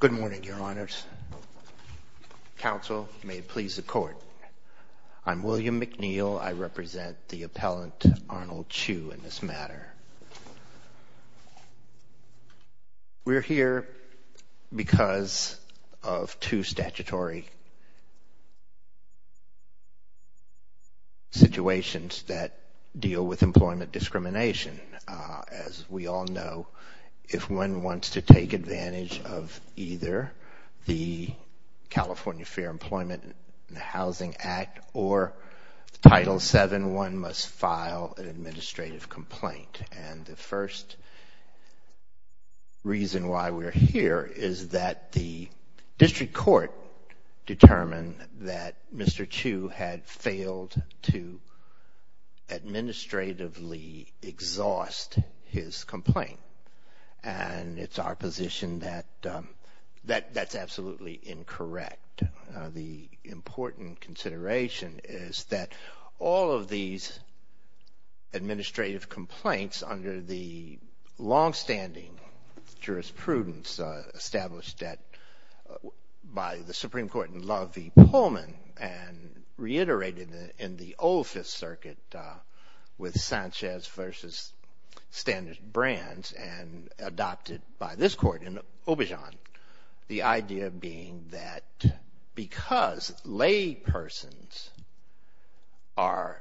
Good morning Your Honors. Council, may it please the court. I'm William McNeil. I represent the appellant Arnold Chew in this matter. We're here because of two statutory situations that deal with employment discrimination. As we all know, if one wants to take advantage of either the California Fair Employment and Housing Act or Title VII, one must file an administrative complaint. And the first reason why we're here is that the district court determined that Mr. Chew had failed to administratively exhaust his complaint. And it's our position that that's absolutely incorrect. The important consideration is that all of these administrative Supreme Court in La Vie Pullman and reiterated in the old Fifth Circuit with Sanchez v. Standard Brands and adopted by this court in Aubuchon. The idea being that because laypersons are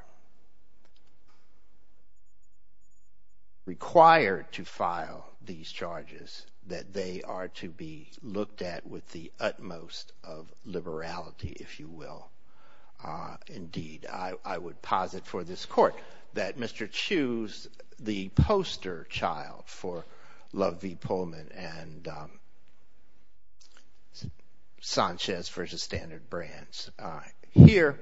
of liberality, if you will. Indeed, I would posit for this court that Mr. Chew is the poster child for La Vie Pullman and Sanchez v. Standard Brands. Here,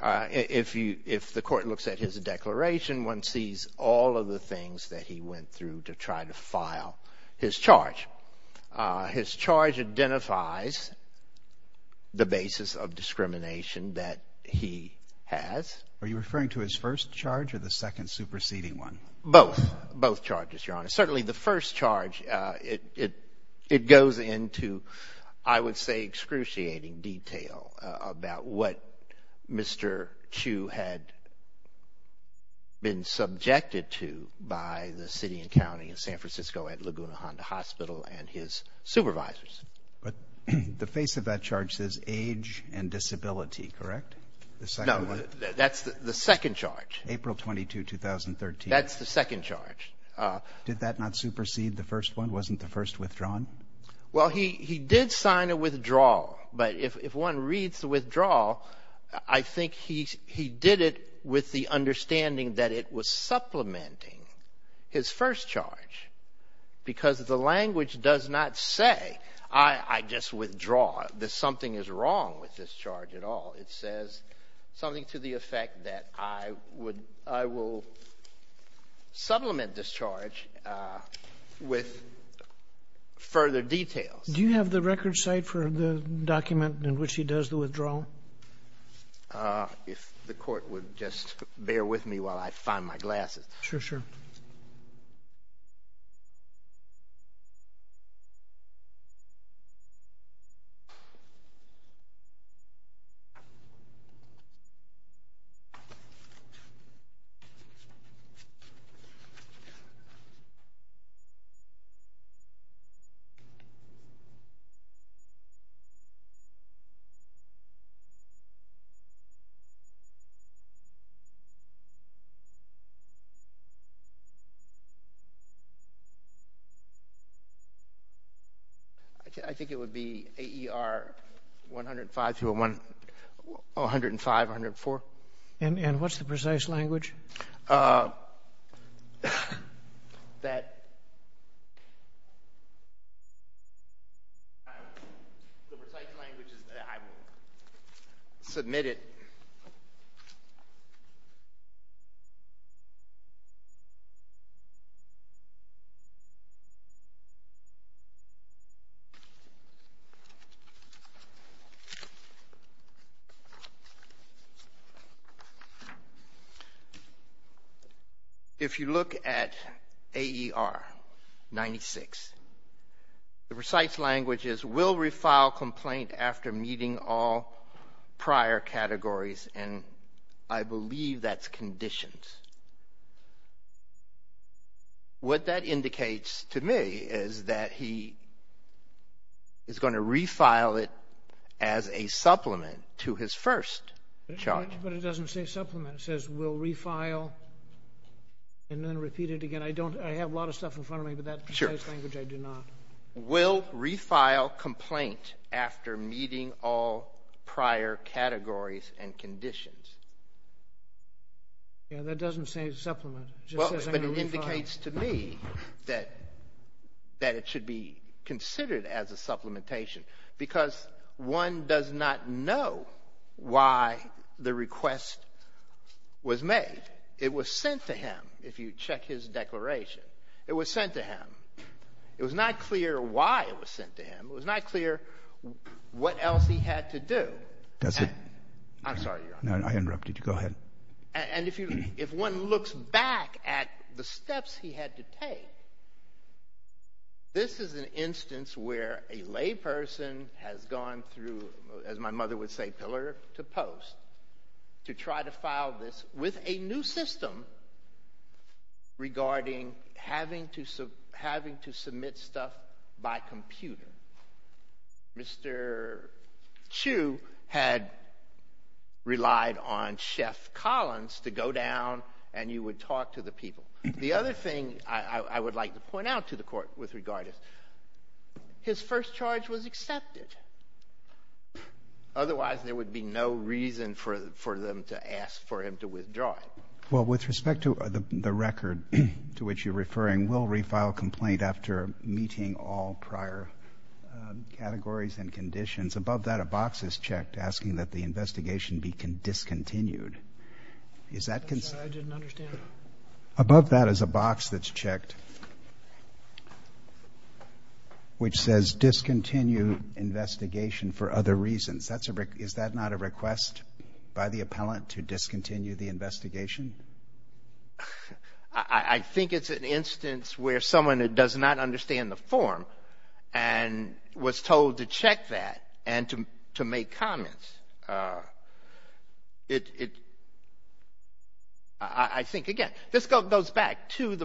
if the court looks at his declaration, one sees all of the things that he went through to try to file his charge. His charge identifies the basis of discrimination that he has. Are you referring to his first charge or the second superseding one? Both. Both charges, Your Honor. Certainly, the first charge, it goes into, I would say, excruciating detail about what Mr. Chew had been subjected to by the city and county of San Francisco at Laguna Honda Hospital and his supervisors. But the face of that charge says age and disability, correct? No, that's the second charge. April 22, 2013. That's the second charge. Did that not supersede the first one? Wasn't the first withdrawn? Well, he did sign a withdrawal. But if one reads the withdrawal, I think he did it with the supplementing his first charge. Because the language does not say, I just withdraw. Something is wrong with this charge at all. It says something to the effect that I will supplement this charge with further details. Do you have the record site for the document in which does the withdrawal? If the court would just bear with me while I find my glasses. Sure, sure. I think it would be AER 105-104. And what's the precise language? The precise language is that I will submit it. If you look at AER 96, the precise language is will refile complaint after meeting all prior categories. And I believe that's conditions. What that indicates to me is that he is going to refile it as a supplement to his first charge. But it doesn't say supplement. It says will refile and then repeat it again. I don't, I have a lot of stuff in front of me, but that precise language I do not. Will refile complaint after meeting all prior categories and conditions. Yeah, that doesn't say supplement. Well, but it indicates to me that it should be considered as it was sent to him. If you check his declaration, it was sent to him. It was not clear why it was sent to him. It was not clear what else he had to do. That's it. I'm sorry. I interrupted you. Go ahead. And if you, if one looks back at the steps he had to take, this is an instance where a lay person has gone through, as my mother would say, pillar to post, to try to file this with a new system regarding having to, having to submit stuff by computer. Mr. Chu had relied on Chef Collins to go down and you would talk to the people. The other thing I would like to point out to the court with the first charge was accepted. Otherwise, there would be no reason for them to ask for him to withdraw it. Well, with respect to the record to which you're referring, will refile complaint after meeting all prior categories and conditions. Above that, a box is checked asking that the investigation be discontinued. Is that concern? I didn't understand. Above that is a box that's asking to discontinue investigation for other reasons. Is that not a request by the appellant to discontinue the investigation? I think it's an instance where someone that does not understand the form and was told to check that and to make comments. I think, again, this goes back to the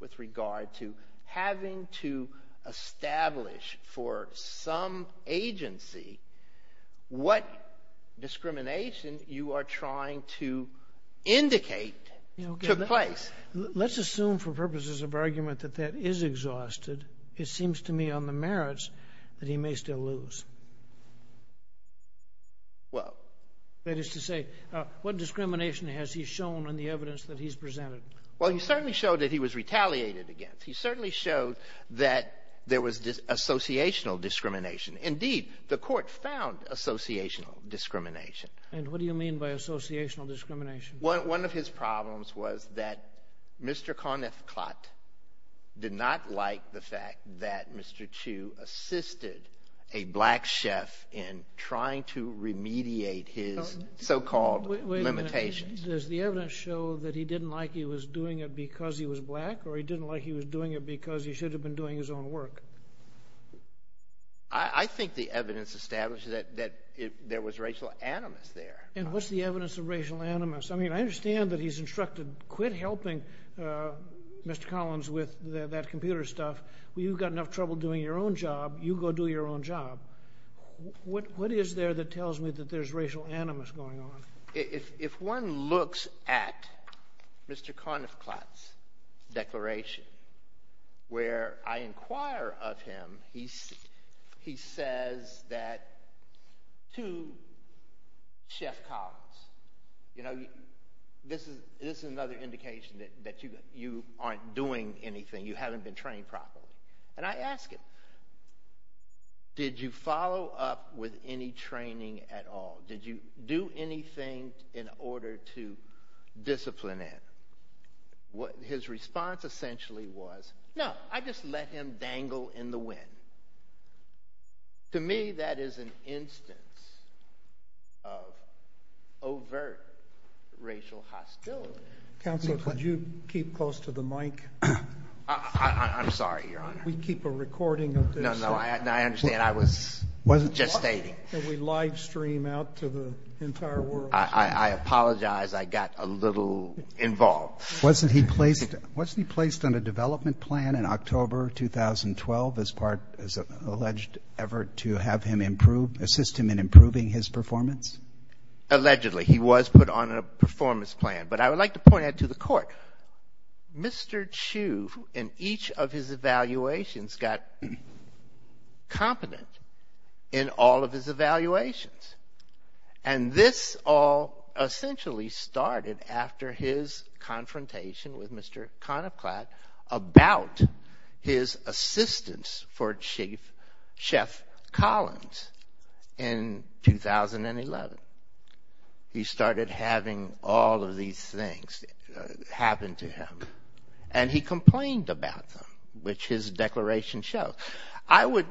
with regard to having to establish for some agency what discrimination you are trying to indicate took place. Let's assume for purposes of argument that that is exhausted. It seems to me on the merits that he may still lose. Well, that is to say, what discrimination has he shown in the evidence that he's presented? Well, he certainly showed that he was retaliated against. He certainly showed that there was this associational discrimination. Indeed, the court found associational discrimination. And what do you mean by associational discrimination? One of his problems was that Mr. Conniff-Klott did not like the fact that Mr. Chu assisted a black chef in trying to remediate his so-called limitations. Wait a minute. Does the evidence show that he didn't like he was doing it because he was black or he didn't like he was doing it because he should have been doing his own work? I think the evidence established that there was racial animus there. And what's the evidence of racial animus? I mean, I understand that he's instructed quit helping Mr. Collins with that computer stuff. Well, you've got enough trouble doing your own job. What is there that tells me that there's racial animus going on? If one looks at Mr. Conniff-Klott's declaration, where I inquire of him, he says that to Chef Collins, you know, this is another indication that you aren't doing anything. You haven't been trained properly. And I ask him, did you follow up with any training at all? Did you do anything in order to discipline it? What his response essentially was, no, I just let him dangle in the wind. To me, that is an instance of overt racial hostility. Counselor, could you keep close to the mic? I'm sorry, Your Honor. We keep a recording of this. No, no, I understand. I was just stating. Can we live stream out to the entire world? I apologize. I got a little involved. Wasn't he placed on a development plan in October 2012 as part, as alleged, ever to have him improve, assist him in improving his performance? Allegedly, he was put on a performance plan. But I would like to point out to the court, Mr. Chu, in each of his evaluations, got competent in all of his evaluations. And this all essentially started after his confrontation with Mr. Conniff-Klott about his assistance for Chief Chef Collins in 2011. He started having all of these things happen to him. And he complained about them, which his declaration shows. I would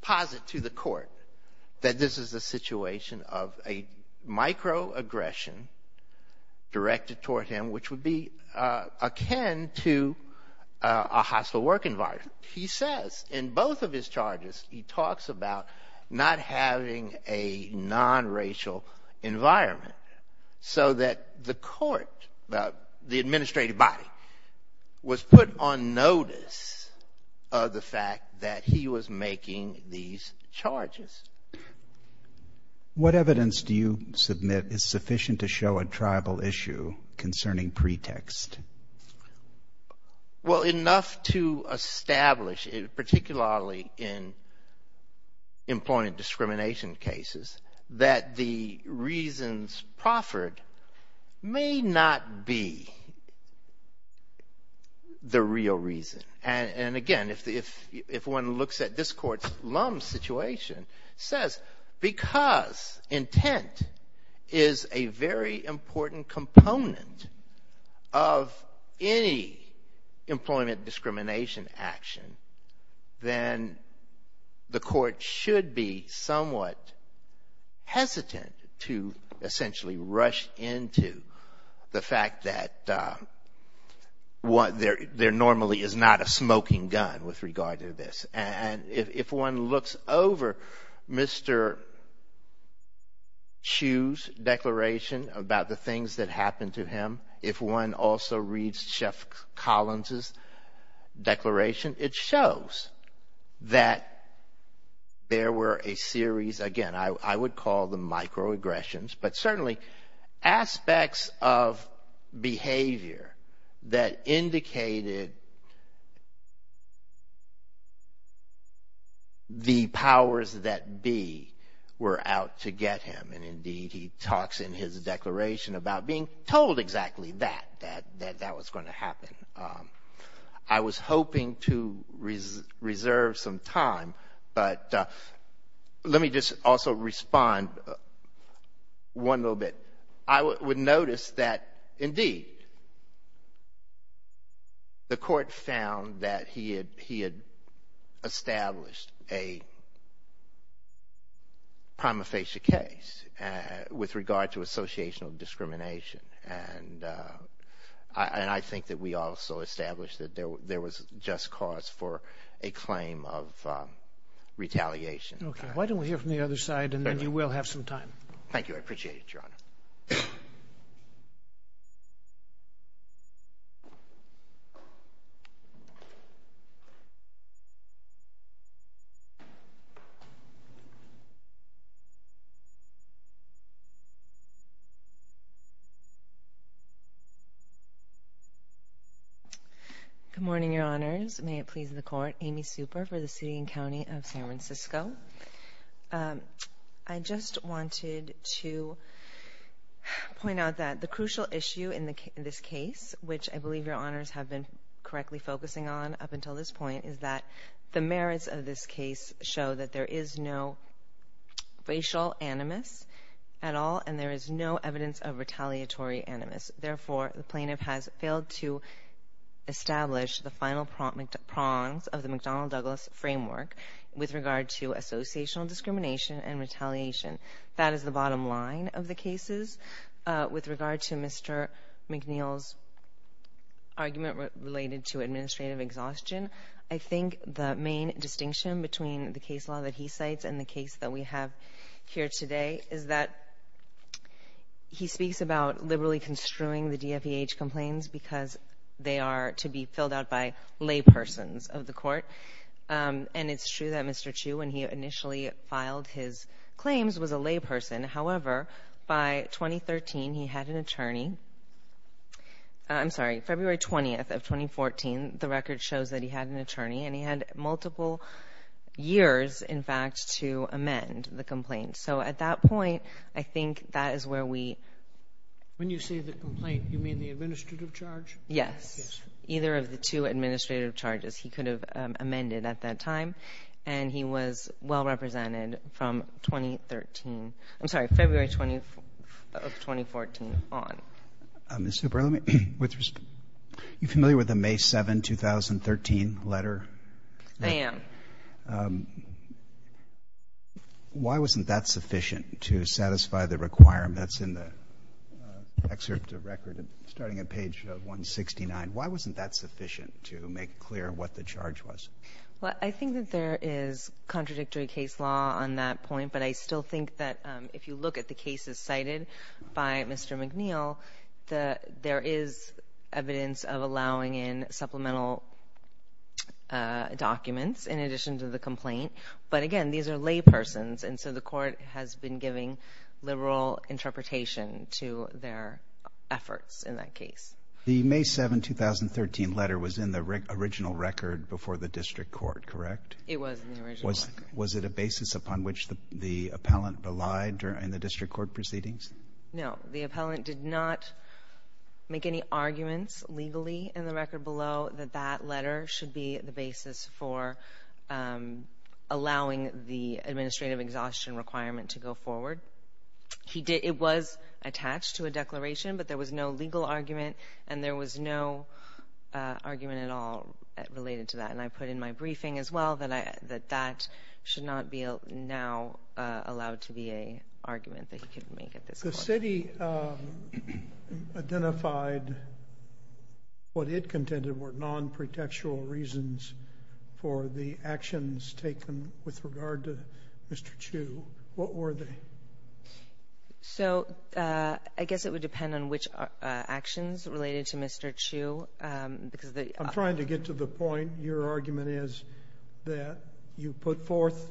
posit to the court that this is a situation of a microaggression directed toward him, which would be akin to a hostile work environment. He says in both of his charges, he talks about not having a non-racial environment so that the court, the administrative body, was put on notice of the fact that he was making these charges. What evidence do you submit is sufficient to show a tribal issue concerning pretext? Well, enough to establish, particularly in employment discrimination cases, that the reasons proffered may not be the real reason. And again, if one looks at this court's situation, says because intent is a very important component of any employment discrimination action, then the court should be somewhat hesitant to essentially rush into the fact that there normally is not a smoking gun with regard to this. And if one looks over Mr. Chu's declaration about the things that happened to him, if one also reads Chef Collins's declaration, it shows that there were a series, again, I would call them microaggressions, but certainly aspects of behavior that indicated the powers that be were out to get him. And indeed, he talks in his declaration about being told exactly that, that that was going to happen. I was hoping to reserve some time, but let me just also respond one little bit. I would notice that, indeed, the court found that he had established a prima facie case with regard to associational discrimination. And I think that we also established that there was just cause for a claim of retaliation. Okay. Why don't we hear from the other side, and then you will have some time. Thank you. I appreciate it, Your Honor. Good morning, Your Honors. May it please the Court. Amy Super for the City and County of San Francisco. I just wanted to point out that the crucial issue in this case, which I believe Your Honors have been correctly focusing on up until this point, is that the merits of this case show that there is no racial animus at all, and there is no evidence of retaliatory animus. Therefore, the plaintiff has failed to establish the final prongs of the McDonnell-Douglas framework with regard to associational discrimination and retaliation. That is the bottom line of the cases. With regard to Mr. McNeil's argument related to administrative exhaustion, I think the main distinction between the case law that he cites and the case that we have here today is that he speaks about liberally construing the DFEH complaints because they are to be filled out by laypersons of the Court. It is true that Mr. Chu, when he initially filed his claims, was a layperson. However, by 2013, he had an attorney. I am sorry, February 20th of 2014, the record shows that he had an attorney, and he had multiple years, in fact, to amend the complaint. At that point, I think that is where we... When you say the complaint, you mean the administrative charge? Yes. Yes. Either of the two administrative charges he could have amended at that time, and he was well represented from 2013. I'm sorry, February 20th of 2014 on. Ms. Zuber, are you familiar with the May 7, 2013 letter? I am. Why wasn't that sufficient to satisfy the requirements in the excerpt of record, starting at page 169? Why wasn't that sufficient to make clear what the charge was? Well, I think that there is contradictory case law on that point, but I still think that if you look at the cases cited by Mr. McNeil, there is evidence of allowing in supplemental documents in addition to the complaint. But again, these are laypersons, and so the court has been giving liberal interpretation to their efforts in that case. The May 7, 2013 letter was in the original record before the district court, correct? It was in the original record. Was it a basis upon which the appellant relied during the district court proceedings? No. The appellant did not make any arguments legally in the record below that that letter should be the basis for allowing the administrative exhaustion requirement to go forward. It was attached to a declaration, but there was no legal argument, and there was no argument at all related to that. And I put in my briefing as well that that should not be allowed to be an argument that he could make at this point. The city identified what it contended were non-protectual reasons for the actions taken with regard to Mr. Chu. What were they? So, I guess it would depend on which actions related to Mr. Chu. I'm trying to get to the point. Your argument is that you put forth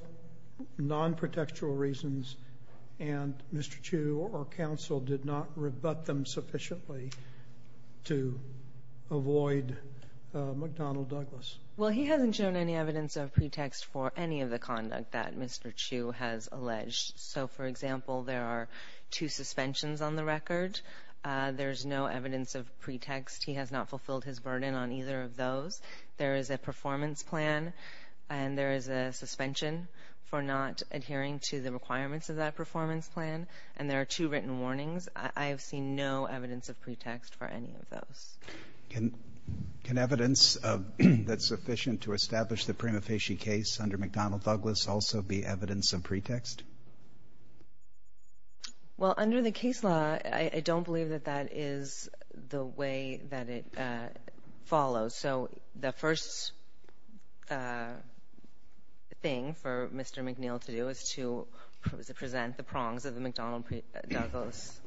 non-protectual reasons, and Mr. Chu or counsel did not rebut them sufficiently to avoid McDonnell Douglas. Well, he hasn't shown any evidence of pretext for any of the conduct that Mr. Chu has alleged. So, for example, there are two suspensions on the record. There's no evidence of pretext. He has not fulfilled his burden on either of those. There is a performance plan, and there is a suspension for not adhering to the requirements of that performance plan, and there are two written warnings. I have seen no evidence of pretext for any of those. Can evidence that's sufficient to establish the Prima Facie case under McDonnell Douglas also be evidence of pretext? Well, under the case law, I don't believe that that is the way that it follows. So, the first thing for Mr. McNeil to do is to present the prongs of the McDonnell Douglas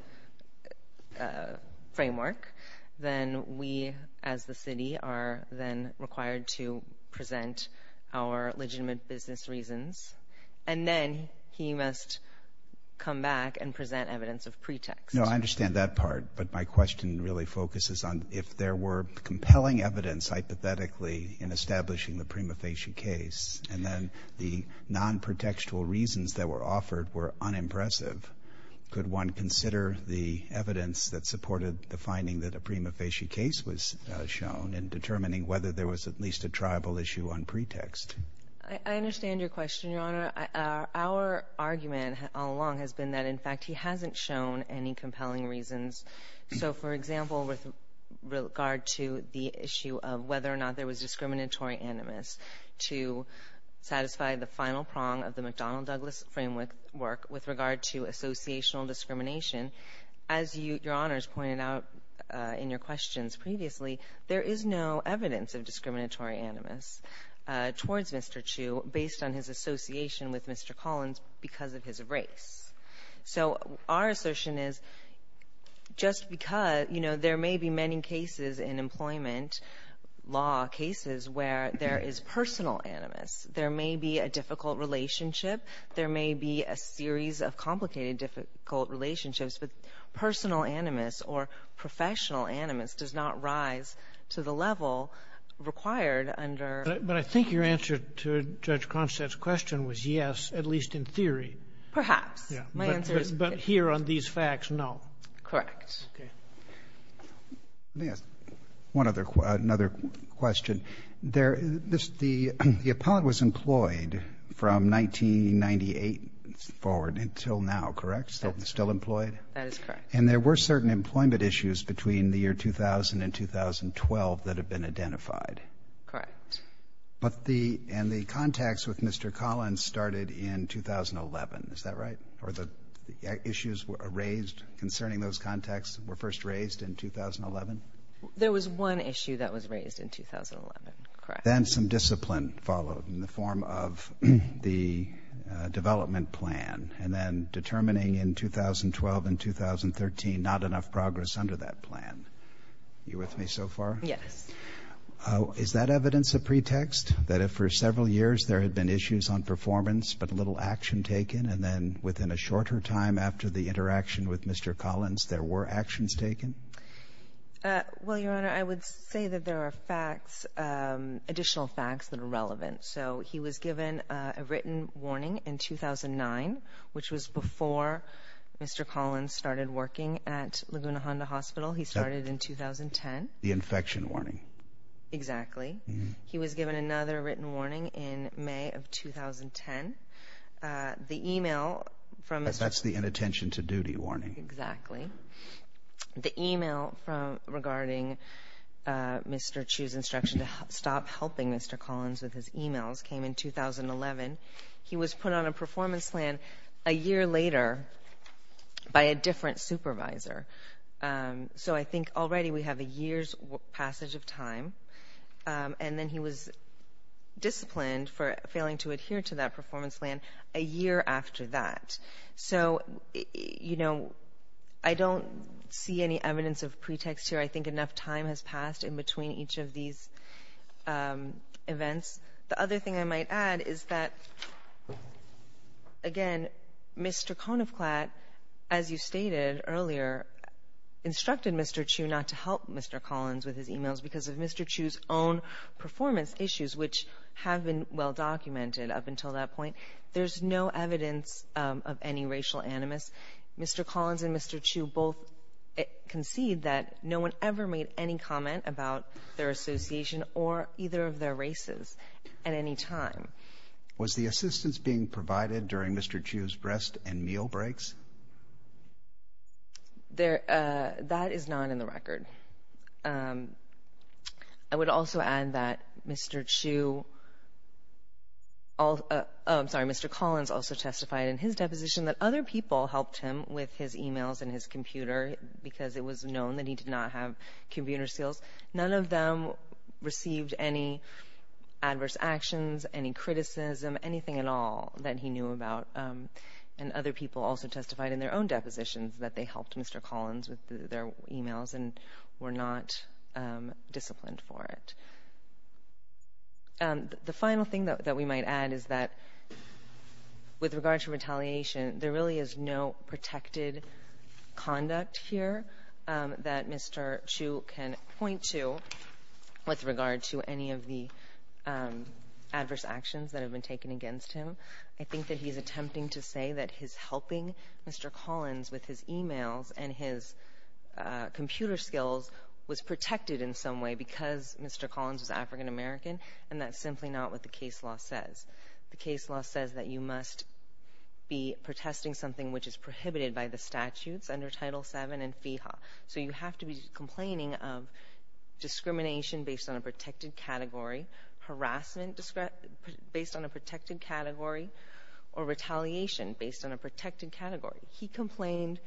framework. Then we, as the city, are then required to present our legitimate business reasons, and then he must come back and present evidence of pretext. No, I understand that part, but my question really focuses on if there were compelling evidence hypothetically in establishing the Prima Facie case, and then the non-protextual reasons that were offered were unimpressive, could one consider the evidence that supported the finding that a Prima Facie case was shown in determining whether there was at least a tribal issue on pretext? I understand your question, Your Honor. Our argument all along has been that, in fact, he hasn't shown any compelling reasons. So, for example, with regard to the issue of whether or not there was discriminatory animus to satisfy the final prong of the McDonnell Douglas framework with regard to associational discrimination, as Your Honor has pointed out in your questions previously, there is no evidence of discriminatory animus towards Mr. Chu based on his association with Mr. Collins because of his race. So, our assertion is just because, you know, there may be many cases in employment law, cases where there is personal animus, there may be a difficult relationship, there may be a series of complicated difficult relationships, but personal animus or professional animus does not rise to the level required under... But I think your answer to Judge here on these facts, no. Correct. Okay. Let me ask another question. The appellate was employed from 1998 forward until now, correct? Still employed? That is correct. And there were certain employment issues between the year 2000 and 2012 that have been identified? Correct. But the... And the contacts with Mr. Collins started in 2011, is that right? Or the issues were raised concerning those contacts were first raised in 2011? There was one issue that was raised in 2011, correct? Then some discipline followed in the form of the development plan and then determining in 2012 and 2013 not enough progress under that plan. Are you with me so far? Yes. Is that evidence a pretext that if for several years there had been issues on performance but little action taken and then within a shorter time after the interaction with Mr. Collins, there were actions taken? Well, Your Honor, I would say that there are facts, additional facts that are relevant. So he was given a written warning in 2009, which was before Mr. Collins started working at Laguna Honda Hospital. He started in 2010. The infection warning. Exactly. He was given another written warning in May of 2010. The email from... That's the inattention to duty warning. Exactly. The email regarding Mr. Chu's instruction to stop helping Mr. Collins with his emails came in 2011. He was put on a performance plan a year later by a different supervisor. So I think already we have a year's passage of time and then he was disciplined for failing to adhere to that performance plan a year after that. So I don't see any evidence of pretext here. I think enough time has passed in between each of these events. The other thing I might add is that, again, Mr. Konofklat, as you stated earlier, instructed Mr. Chu not to help Mr. Collins with his emails because of Mr. Chu's own performance issues, which have been well documented up until that point. There's no evidence of any racial animus. Mr. Collins and that no one ever made any comment about their association or either of their races at any time. Was the assistance being provided during Mr. Chu's rest and meal breaks? That is not in the record. I would also add that Mr. Chu... I'm sorry, Mr. Collins also testified in his deposition that other people helped him with his emails and his computer because it was known that he did not have computer skills. None of them received any adverse actions, any criticism, anything at all that he knew about. And other people also testified in their own depositions that they helped Mr. Collins with their emails and were not disciplined for it. The final thing that we might add is that with regard to retaliation, there really is no protected conduct here that Mr. Chu can point to with regard to any of the adverse actions that have been taken against him. I think that he's attempting to say that his helping Mr. Collins with his emails and his computer skills was protected in some way because Mr. Collins was African American, and that's simply not what the The case law says that you must be protesting something which is prohibited by the statutes under Title VII and FEHA. So you have to be complaining of discrimination based on a protected category, harassment based on a protected category, or retaliation based on a protected category. He complained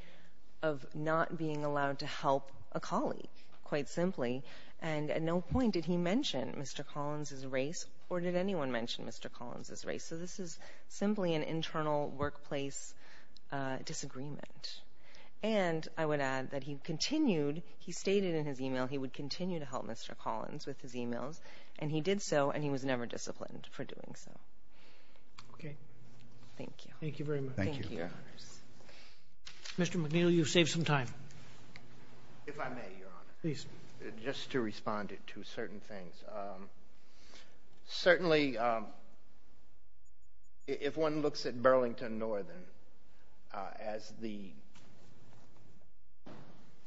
of not being allowed to help a colleague, quite simply, and at no point did he mention Mr. Collins's race or did anyone mention Mr. Collins's race. So this is simply an internal workplace disagreement. And I would add that he continued, he stated in his email he would continue to help Mr. Collins with his emails, and he did so and he was never disciplined for doing so. Okay. Thank you. Thank you very much. Thank you. Mr. McNeil, you've saved some time. If I may, Your Honor. Please. Just to respond to certain things. Certainly, if one looks at Burlington Northern as the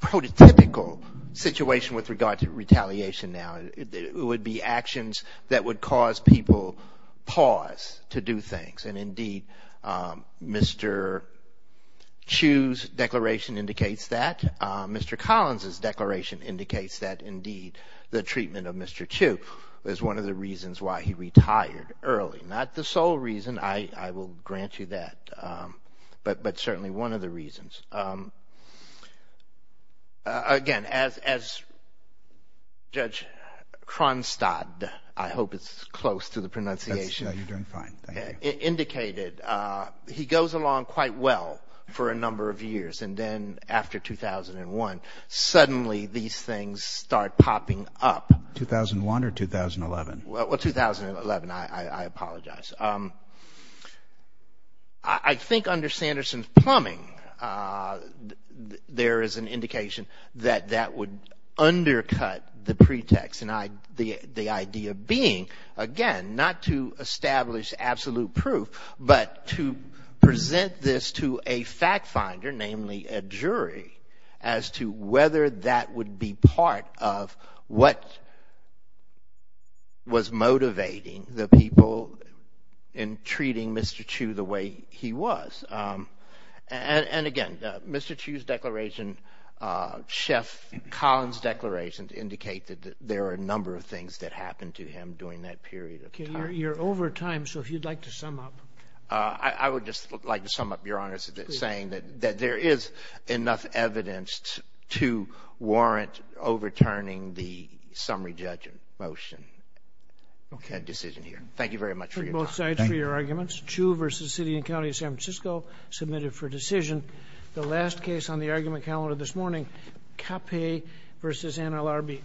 prototypical situation with regard to retaliation now, it would be actions that would cause people pause to do things. And indeed, Mr. Chu's declaration indicates that. Mr. Collins's declaration indicates that, indeed, the treatment of Mr. Chu is one of the reasons why he retired early. Not the sole reason, I will grant you that, but certainly one of the reasons. Again, as Judge Kronstadt, I hope it's close to the pronunciation. You're doing fine. Thank you. Indicated, he goes along quite well for a number of years, and then after 2001, suddenly these things start popping up. 2001 or 2011? Well, 2011. I apologize. I think under Sanderson's plumbing, there is an indication that that would undercut the pretext and the idea being, again, not to establish absolute proof, but to present this to a fact finder, namely a jury, as to whether that would be part of what was motivating the people in treating Mr. Chu the way he was. And again, Mr. Chu's declaration, Chef Collins' declaration indicate that there are a number of things that happened to him during that period of time. You're over time, so if you'd like to sum up. I would just like to sum up, Your Honor, saying that there is enough evidence to warrant overturning the summary judgment motion and decision here. Thank you very much for your time. Both sides for your arguments. Chu versus City and County of San Francisco submitted for decision. The last case on the argument calendar this morning, Capay versus NLRB.